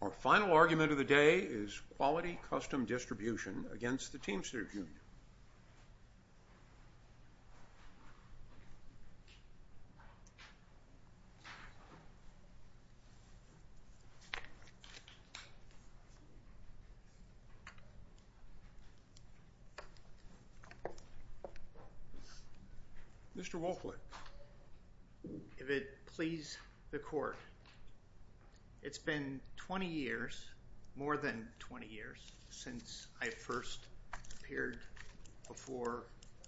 Our final argument of the day is Quality Custom Distribution against the Teamsters Union. Mr. Wolflett, if it please the Court, it's been 20 years, more than 20 years, since I first appeared before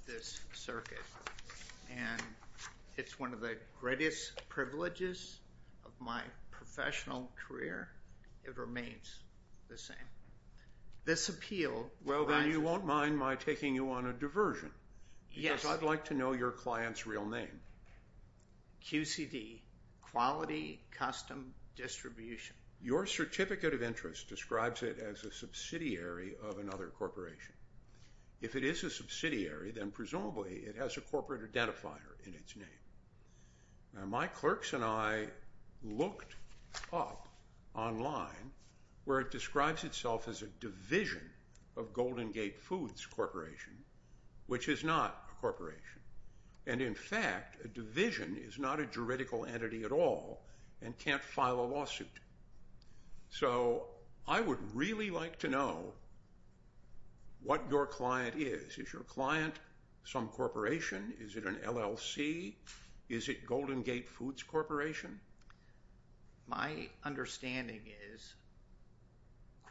this circuit, and it's one of the greatest privileges of my professional career. It remains the same. This appeal... Well, then you won't mind my taking you on a diversion. Yes. Because I'd like to know your client's real name. QCD, Quality Custom Distribution. Your certificate of interest describes it as a subsidiary of another corporation. If it is a subsidiary, then presumably it has a corporate identifier in its name. Now, my clerks and I looked up online where it describes itself as a division of Golden Gate Foods Corporation, which is not a corporation. And in fact, a division is not a juridical entity at all and can't file a lawsuit. So I would really like to know what your client is. Is your client some corporation? Is it an LLC? Is it Golden Gate Foods Corporation? My understanding is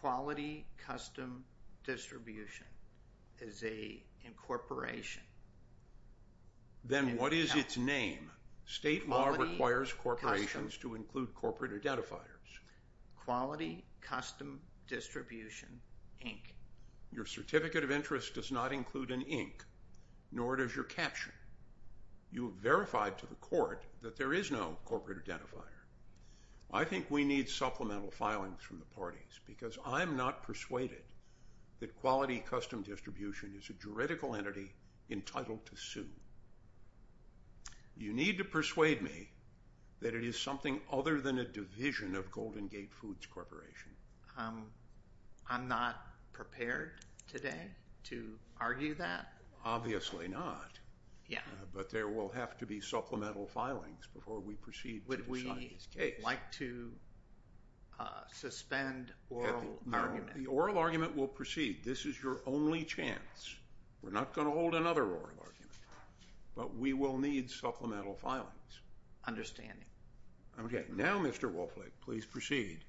Quality Custom Distribution is a incorporation. Then what is its name? State law requires corporations to include corporate identifiers. Quality Custom Distribution, Inc. Your certificate of interest does not include an Inc., nor does your caption. You have verified to the court that there is no corporate identifier. I think we need supplemental filings from the parties because I'm not persuaded that Quality Custom Distribution is a juridical entity entitled to sue. You need to persuade me that it is something other than a division of Golden Gate Foods Corporation. I'm not prepared today to argue that. Obviously not, but there will have to be supplemental filings before we proceed to decide this case. Would we like to suspend oral argument? The oral argument will proceed. This is your only chance. We're not going to hold another oral argument, but we will need supplemental filings. Understanding. Okay. Now, Mr. Wolflake, please proceed.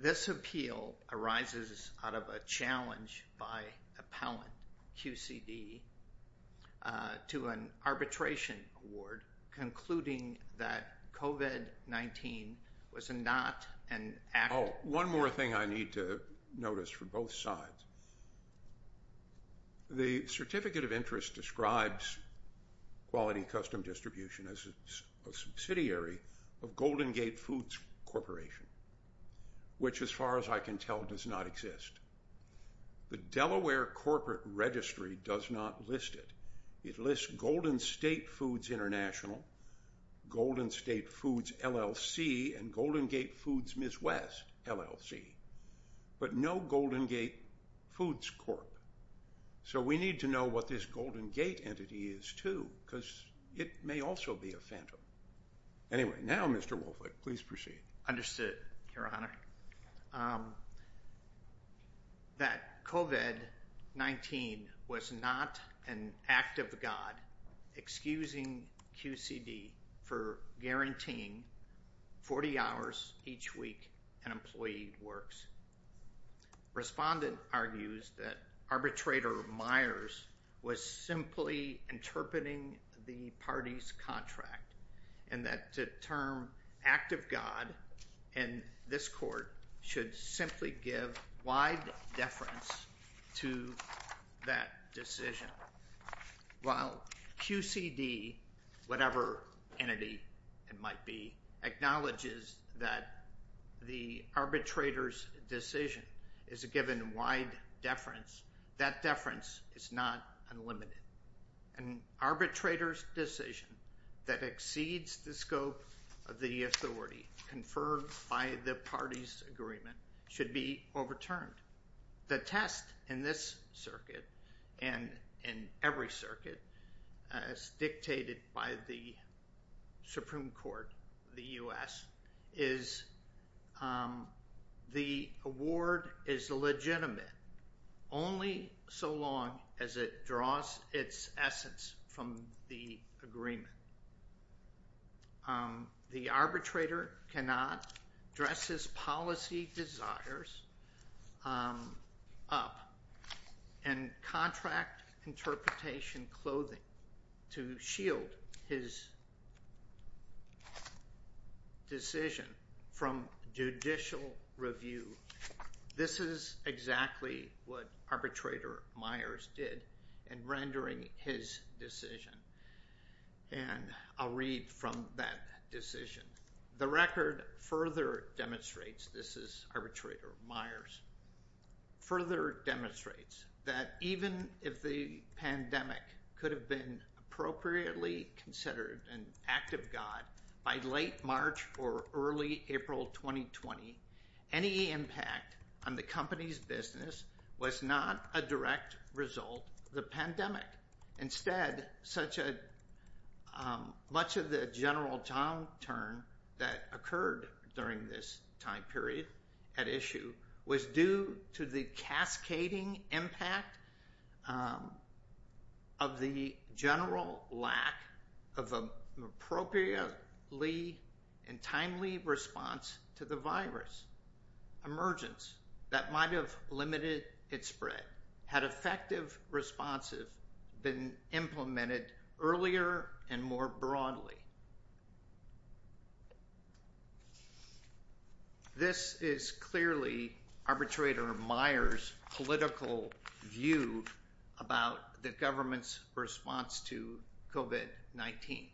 This appeal arises out of a challenge by appellant QCD to an arbitration award concluding that COVID-19 was not an act... Oh, one more thing I need to notice for both sides. The Certificate of Interest describes Quality Custom Distribution as a subsidiary of Golden Gate Foods Corporation, which as far as I can tell does not exist. The Delaware Corporate Registry does not list it. It lists Golden State Foods International, Golden State Foods LLC, and Golden Gate Foods Ms. West LLC, but no Golden Gate Foods Corp. So we need to know what this Golden Gate entity is, too, because it may also be a phantom. Anyway, now, Mr. Wolflake, please proceed. Understood, Your Honor. I would like to point out that COVID-19 was not an act of God excusing QCD for guaranteeing 40 hours each week an employee works. Respondent argues that arbitrator Myers was simply interpreting the party's contract and that the term act of God in this court should simply give wide deference to that decision. While QCD, whatever entity it might be, acknowledges that the arbitrator's decision is a given wide deference, that deference is not unlimited. An arbitrator's decision that exceeds the scope of the authority conferred by the party's agreement should be overturned. The test in this circuit and in every circuit as dictated by the Supreme Court, the U.S., is the award is legitimate only so long as it draws its essence from the agreement. The arbitrator cannot dress his policy desires up in contract interpretation clothing to shield his decision from judicial review. This is exactly what arbitrator Myers did in rendering his decision. And I'll read from that decision. The record further demonstrates, this is arbitrator Myers, further demonstrates that even if the pandemic could have been appropriately considered an act of God by late March or early April 2020, any impact on the company's business was not a direct result of the pandemic. Instead, much of the general downturn that occurred during this time period at issue was due to the cascading impact of the general lack of an appropriately and timely response to the virus. Emergence that might have limited its spread had effective responses been implemented earlier and more broadly. This is clearly arbitrator Myers' political view about the government's response to COVID-19.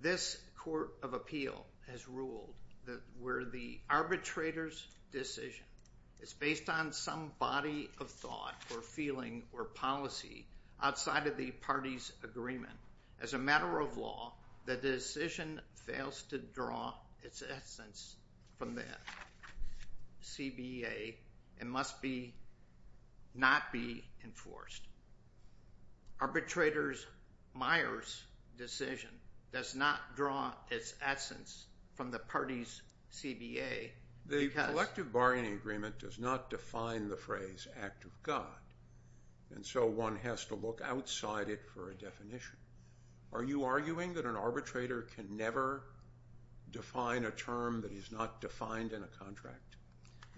This Court of Appeal has ruled that where the arbitrator's decision is based on some body of thought or feeling or policy outside of the party's agreement, as a matter of law, the decision fails to draw its essence from that CBA and must not be enforced. Arbitrator Myers' decision does not draw its essence from the party's CBA. The collective bargaining agreement does not define the phrase act of God. And so one has to look outside it for a definition. Are you arguing that an arbitrator can never define a term that is not defined in a contract?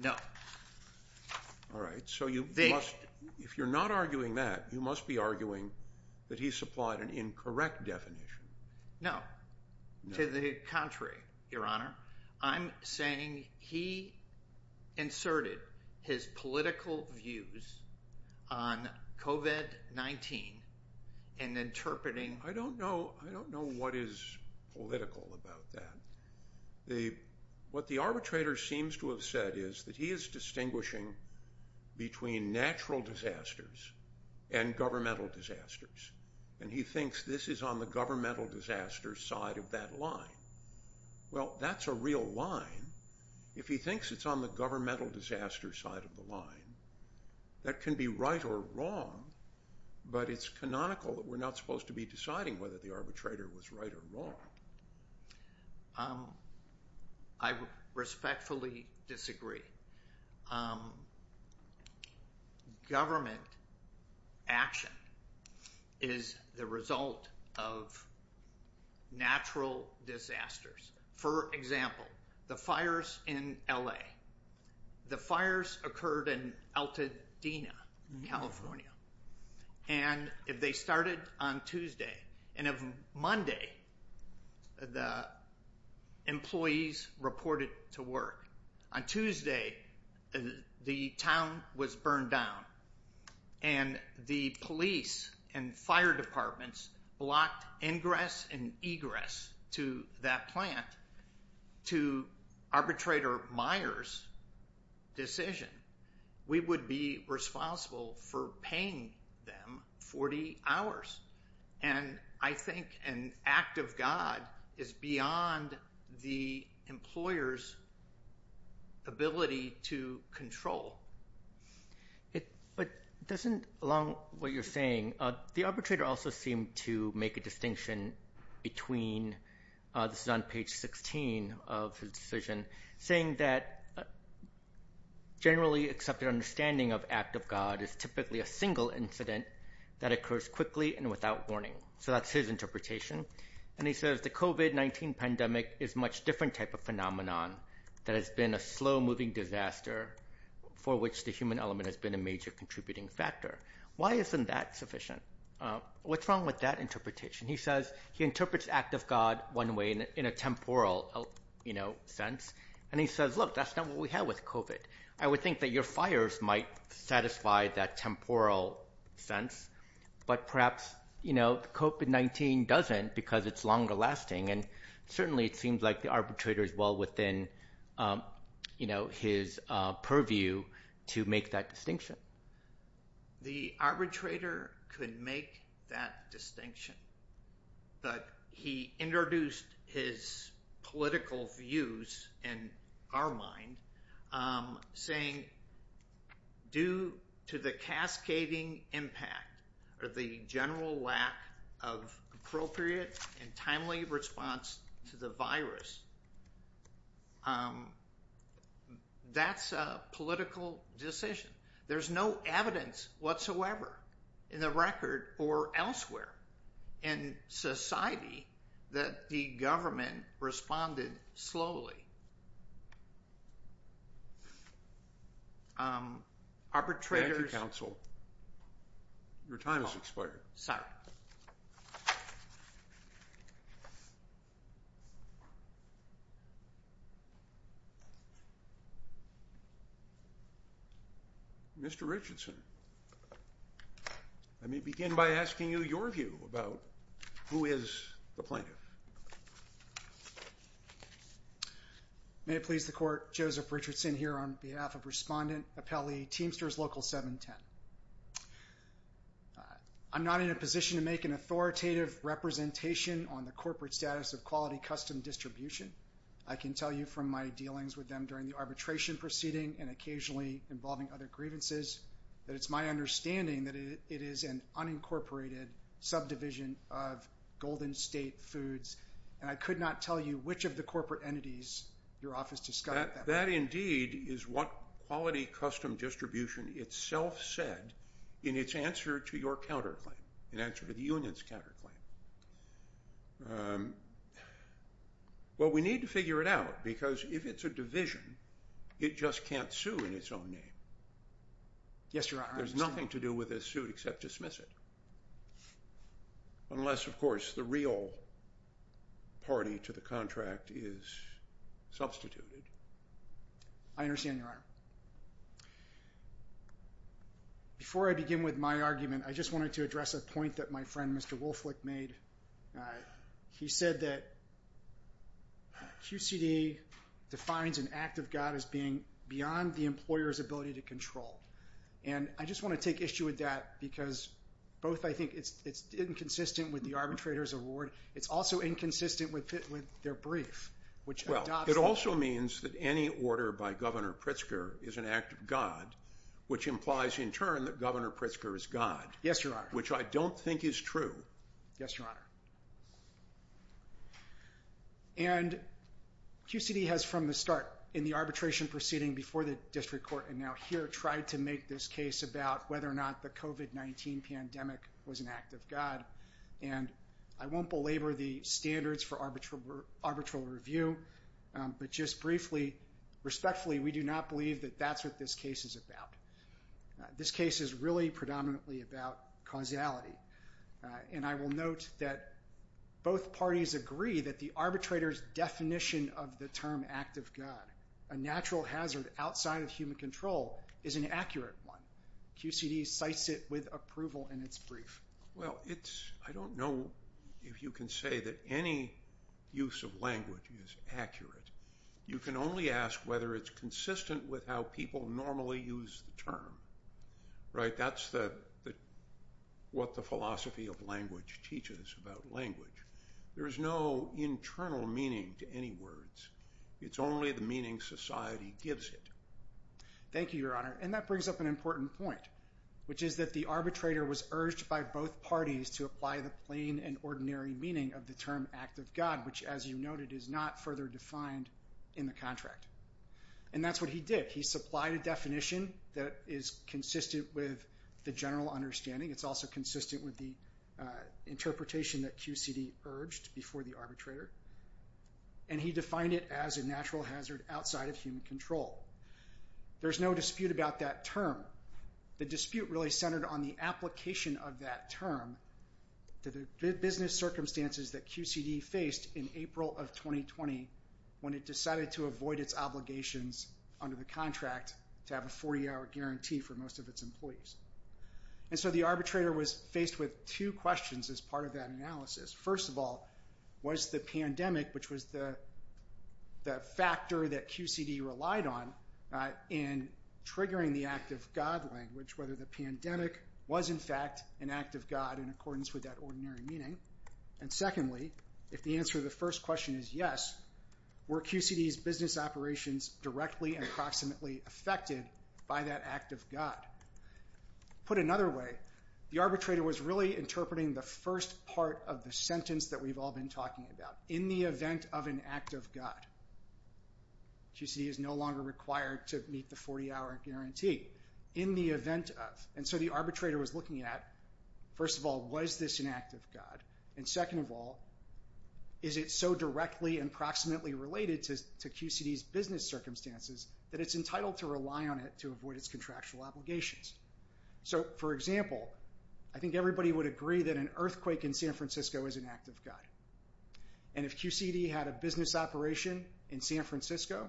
No. All right. So if you're not arguing that, you must be arguing that he supplied an incorrect definition. No. To the contrary, Your Honor. I'm saying he inserted his political views on COVID-19 and interpreting — I don't know. I don't know what is political about that. What the arbitrator seems to have said is that he is distinguishing between natural disasters and governmental disasters. And he thinks this is on the governmental disaster side of that line. Well, that's a real line. If he thinks it's on the governmental disaster side of the line, that can be right or wrong, but it's canonical that we're not supposed to be deciding whether the arbitrator was right or wrong. I respectfully disagree. Government action is the result of natural disasters. For example, the fires in L.A. The fires occurred in Altadena, California. And if they started on Tuesday and if Monday the employees reported to work, on Tuesday the town was burned down and the police and fire departments blocked ingress and egress to that plant to arbitrator Myers' decision, we would be responsible for paying them 40 hours. And I think an act of God is beyond the employer's ability to control. It doesn't along what you're saying. The arbitrator also seemed to make a distinction between this is on page 16 of his decision, saying that generally accepted understanding of act of God is typically a single incident that occurs quickly and without warning. So that's his interpretation. And he says the COVID-19 pandemic is a much different type of phenomenon that has been a slow-moving disaster for which the human element has been a major contributing factor. Why isn't that sufficient? What's wrong with that interpretation? He says he interprets act of God one way in a temporal sense, and he says, look, that's not what we had with COVID. I would think that your fires might satisfy that temporal sense, but perhaps COVID-19 doesn't because it's longer lasting. And certainly it seems like the arbitrator is well within his purview to make that distinction. The arbitrator could make that distinction. But he introduced his political views in our mind, saying due to the cascading impact or the general lack of appropriate and timely response to the virus, that's a political decision. There's no evidence whatsoever in the record or elsewhere in society that the government responded slowly. Arbitrators— Thank you, counsel. Your time has expired. Sorry. Mr. Richardson, let me begin by asking you your view about who is the plaintiff. May it please the court, Joseph Richardson here on behalf of Respondent Appellee Teamsters Local 710. I'm not in a position to make an authoritative representation on the corporate status of quality custom distribution. I can tell you from my dealings with them during the arbitration proceeding and occasionally involving other grievances that it's my understanding that it is an unincorporated subdivision of Golden State Foods. And I could not tell you which of the corporate entities your office discovered them. That indeed is what quality custom distribution itself said in its answer to your counterclaim, in answer to the union's counterclaim. Well, we need to figure it out because if it's a division, it just can't sue in its own name. Yes, Your Honor. There's nothing to do with this suit except dismiss it, unless, of course, the real party to the contract is substituted. I understand, Your Honor. Before I begin with my argument, I just wanted to address a point that my friend, Mr. Wolflick, made. He said that QCD defines an act of God as being beyond the employer's ability to control. And I just want to take issue with that because both I think it's inconsistent with the arbitrator's award. It's also inconsistent with their brief, which adopts the law. It means that any order by Governor Pritzker is an act of God, which implies, in turn, that Governor Pritzker is God. Yes, Your Honor. Which I don't think is true. Yes, Your Honor. And QCD has, from the start, in the arbitration proceeding before the district court and now here, tried to make this case about whether or not the COVID-19 pandemic was an act of God. And I won't belabor the standards for arbitral review, but just briefly, respectfully, we do not believe that that's what this case is about. This case is really predominantly about causality. And I will note that both parties agree that the arbitrator's definition of the term act of God, a natural hazard outside of human control, is an accurate one. QCD cites it with approval in its brief. Well, I don't know if you can say that any use of language is accurate. You can only ask whether it's consistent with how people normally use the term. Right? That's what the philosophy of language teaches about language. There is no internal meaning to any words. It's only the meaning society gives it. Thank you, Your Honor. And that brings up an important point, which is that the arbitrator was urged by both parties to apply the plain and ordinary meaning of the term act of God, which, as you noted, is not further defined in the contract. And that's what he did. He supplied a definition that is consistent with the general understanding. It's also consistent with the interpretation that QCD urged before the arbitrator. And he defined it as a natural hazard outside of human control. There's no dispute about that term. The dispute really centered on the application of that term to the business circumstances that QCD faced in April of 2020 when it decided to avoid its obligations under the contract to have a 40-hour guarantee for most of its employees. And so the arbitrator was faced with two questions as part of that analysis. First of all, was the pandemic, which was the factor that QCD relied on, in triggering the act of God language, whether the pandemic was, in fact, an act of God in accordance with that ordinary meaning? And secondly, if the answer to the first question is yes, were QCD's business operations directly and approximately affected by that act of God? Put another way, the arbitrator was really interpreting the first part of the sentence that we've all been talking about. In the event of an act of God, QCD is no longer required to meet the 40-hour guarantee. In the event of. And so the arbitrator was looking at, first of all, was this an act of God? And second of all, is it so directly and approximately related to QCD's business circumstances that it's entitled to rely on it to avoid its contractual obligations? So, for example, I think everybody would agree that an earthquake in San Francisco is an act of God. And if QCD had a business operation in San Francisco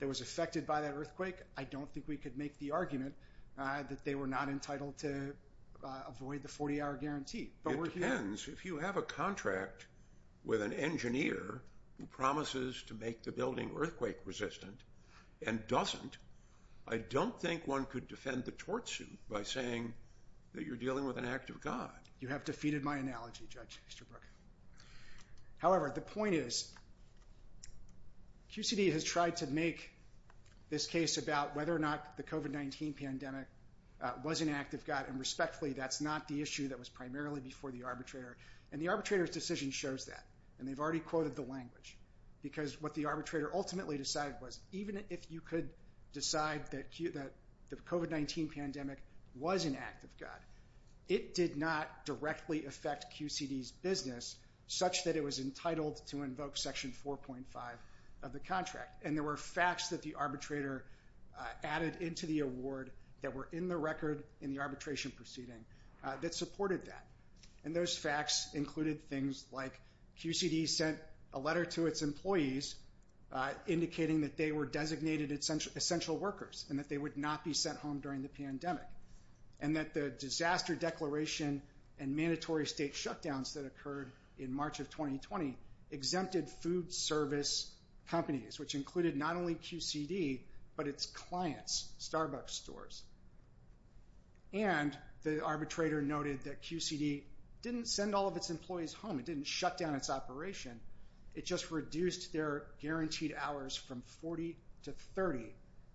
that was affected by that earthquake, I don't think we could make the argument that they were not entitled to avoid the 40-hour guarantee. It depends. If you have a contract with an engineer who promises to make the building earthquake resistant and doesn't, I don't think one could defend the tort suit by saying that you're dealing with an act of God. You have defeated my analogy, Judge Easterbrook. However, the point is QCD has tried to make this case about whether or not the COVID-19 pandemic was an act of God, and respectfully, that's not the issue that was primarily before the arbitrator. And the arbitrator's decision shows that, and they've already quoted the language, because what the arbitrator ultimately decided was even if you could decide that the COVID-19 pandemic was an act of God, it did not directly affect QCD's business such that it was entitled to invoke Section 4.5 of the contract. And there were facts that the arbitrator added into the award that were in the record in the arbitration proceeding that supported that. And those facts included things like QCD sent a letter to its employees indicating that they were designated essential workers and that they would not be sent home during the pandemic, and that the disaster declaration and mandatory state shutdowns that occurred in March of 2020 exempted food service companies, which included not only QCD, but its clients, Starbucks stores. And the arbitrator noted that QCD didn't send all of its employees home. It didn't shut down its operation. It just reduced their guaranteed hours from 40 to 30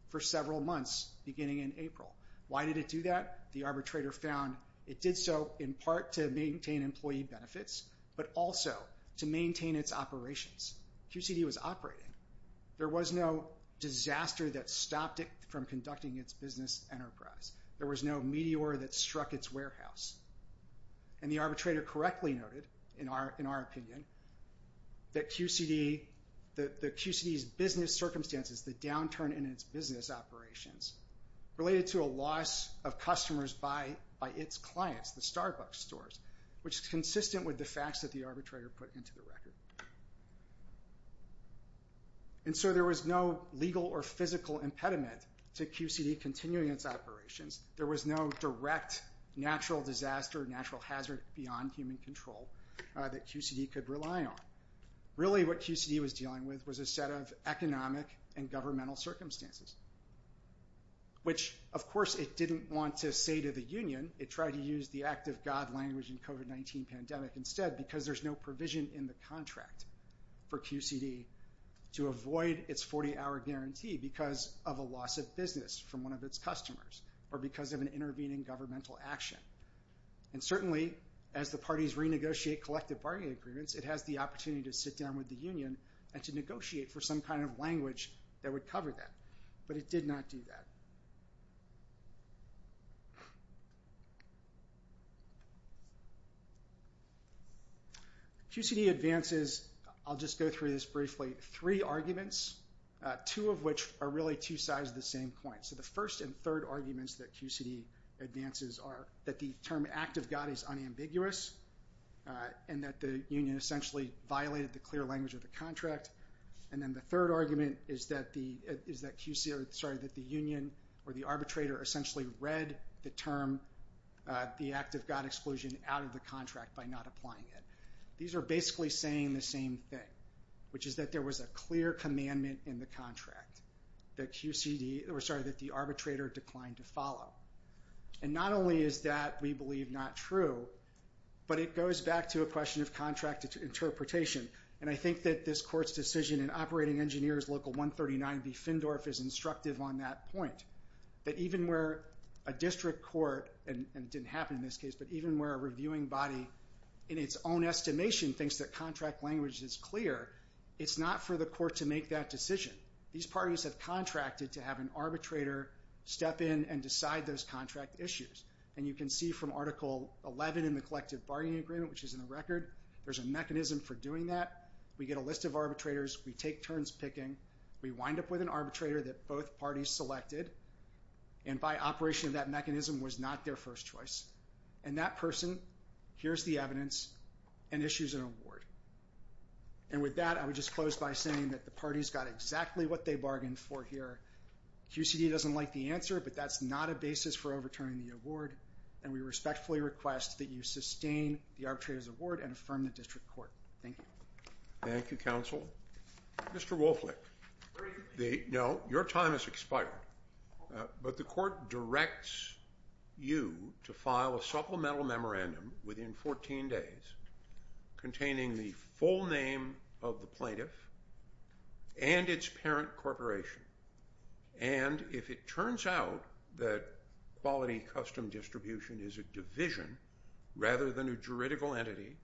for several months beginning in April. Why did it do that? The arbitrator found it did so in part to maintain employee benefits, but also to maintain its operations. QCD was operating. There was no disaster that stopped it from conducting its business enterprise. There was no meteor that struck its warehouse. And the arbitrator correctly noted, in our opinion, that QCD's business circumstances, the downturn in its business operations related to a loss of customers by its clients, the Starbucks stores, which is consistent with the facts that the arbitrator put into the record. And so there was no legal or physical impediment to QCD continuing its operations. There was no direct natural disaster, natural hazard beyond human control that QCD could rely on. Really, what QCD was dealing with was a set of economic and governmental circumstances, which, of course, it didn't want to say to the union. It tried to use the act of God language in COVID-19 pandemic instead, because there's no provision in the contract for QCD to avoid its 40-hour guarantee because of a loss of business from one of its customers or because of an intervening governmental action. And certainly, as the parties renegotiate collective bargaining agreements, it has the opportunity to sit down with the union and to negotiate for some kind of language that would cover that. But it did not do that. QCD advances, I'll just go through this briefly, three arguments, two of which are really two sides of the same coin. So the first and third arguments that QCD advances are that the term act of God is unambiguous and that the union essentially violated the clear language of the contract. And then the third argument is that the union or the arbitrator essentially read the term, the act of God exclusion, out of the contract by not applying it. These are basically saying the same thing, which is that there was a clear commandment in the contract. That QCD, or sorry, that the arbitrator declined to follow. And not only is that, we believe, not true, but it goes back to a question of contract interpretation. And I think that this court's decision in Operating Engineers Local 139B, Findorf, is instructive on that point. That even where a district court, and it didn't happen in this case, but even where a reviewing body in its own estimation thinks that contract language is clear, it's not for the court to make that decision. These parties have contracted to have an arbitrator step in and decide those contract issues. And you can see from Article 11 in the Collective Bargaining Agreement, which is in the record, there's a mechanism for doing that. We get a list of arbitrators. We take turns picking. We wind up with an arbitrator that both parties selected, and by operation of that mechanism was not their first choice. And that person hears the evidence and issues an award. And with that, I would just close by saying that the parties got exactly what they bargained for here. QCD doesn't like the answer, but that's not a basis for overturning the award, and we respectfully request that you sustain the arbitrator's award and affirm the district court. Thank you. Thank you, counsel. Mr. Wolflick, your time has expired, but the court directs you to file a supplemental memorandum within 14 days containing the full name of the plaintiff and its parent corporation. And if it turns out that quality custom distribution is a division rather than a juridical entity,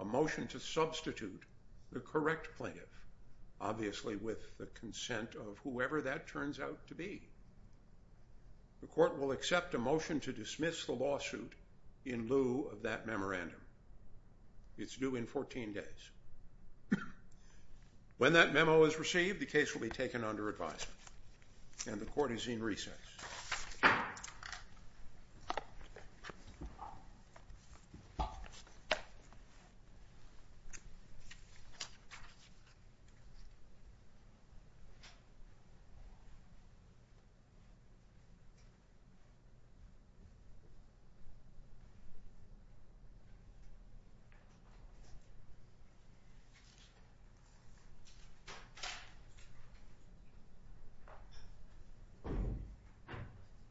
a motion to substitute the correct plaintiff, obviously with the consent of whoever that turns out to be, the court will accept a motion to dismiss the lawsuit in lieu of that memorandum. It's due in 14 days. When that memo is received, the case will be taken under advisement, and the court is in recess. Thank you.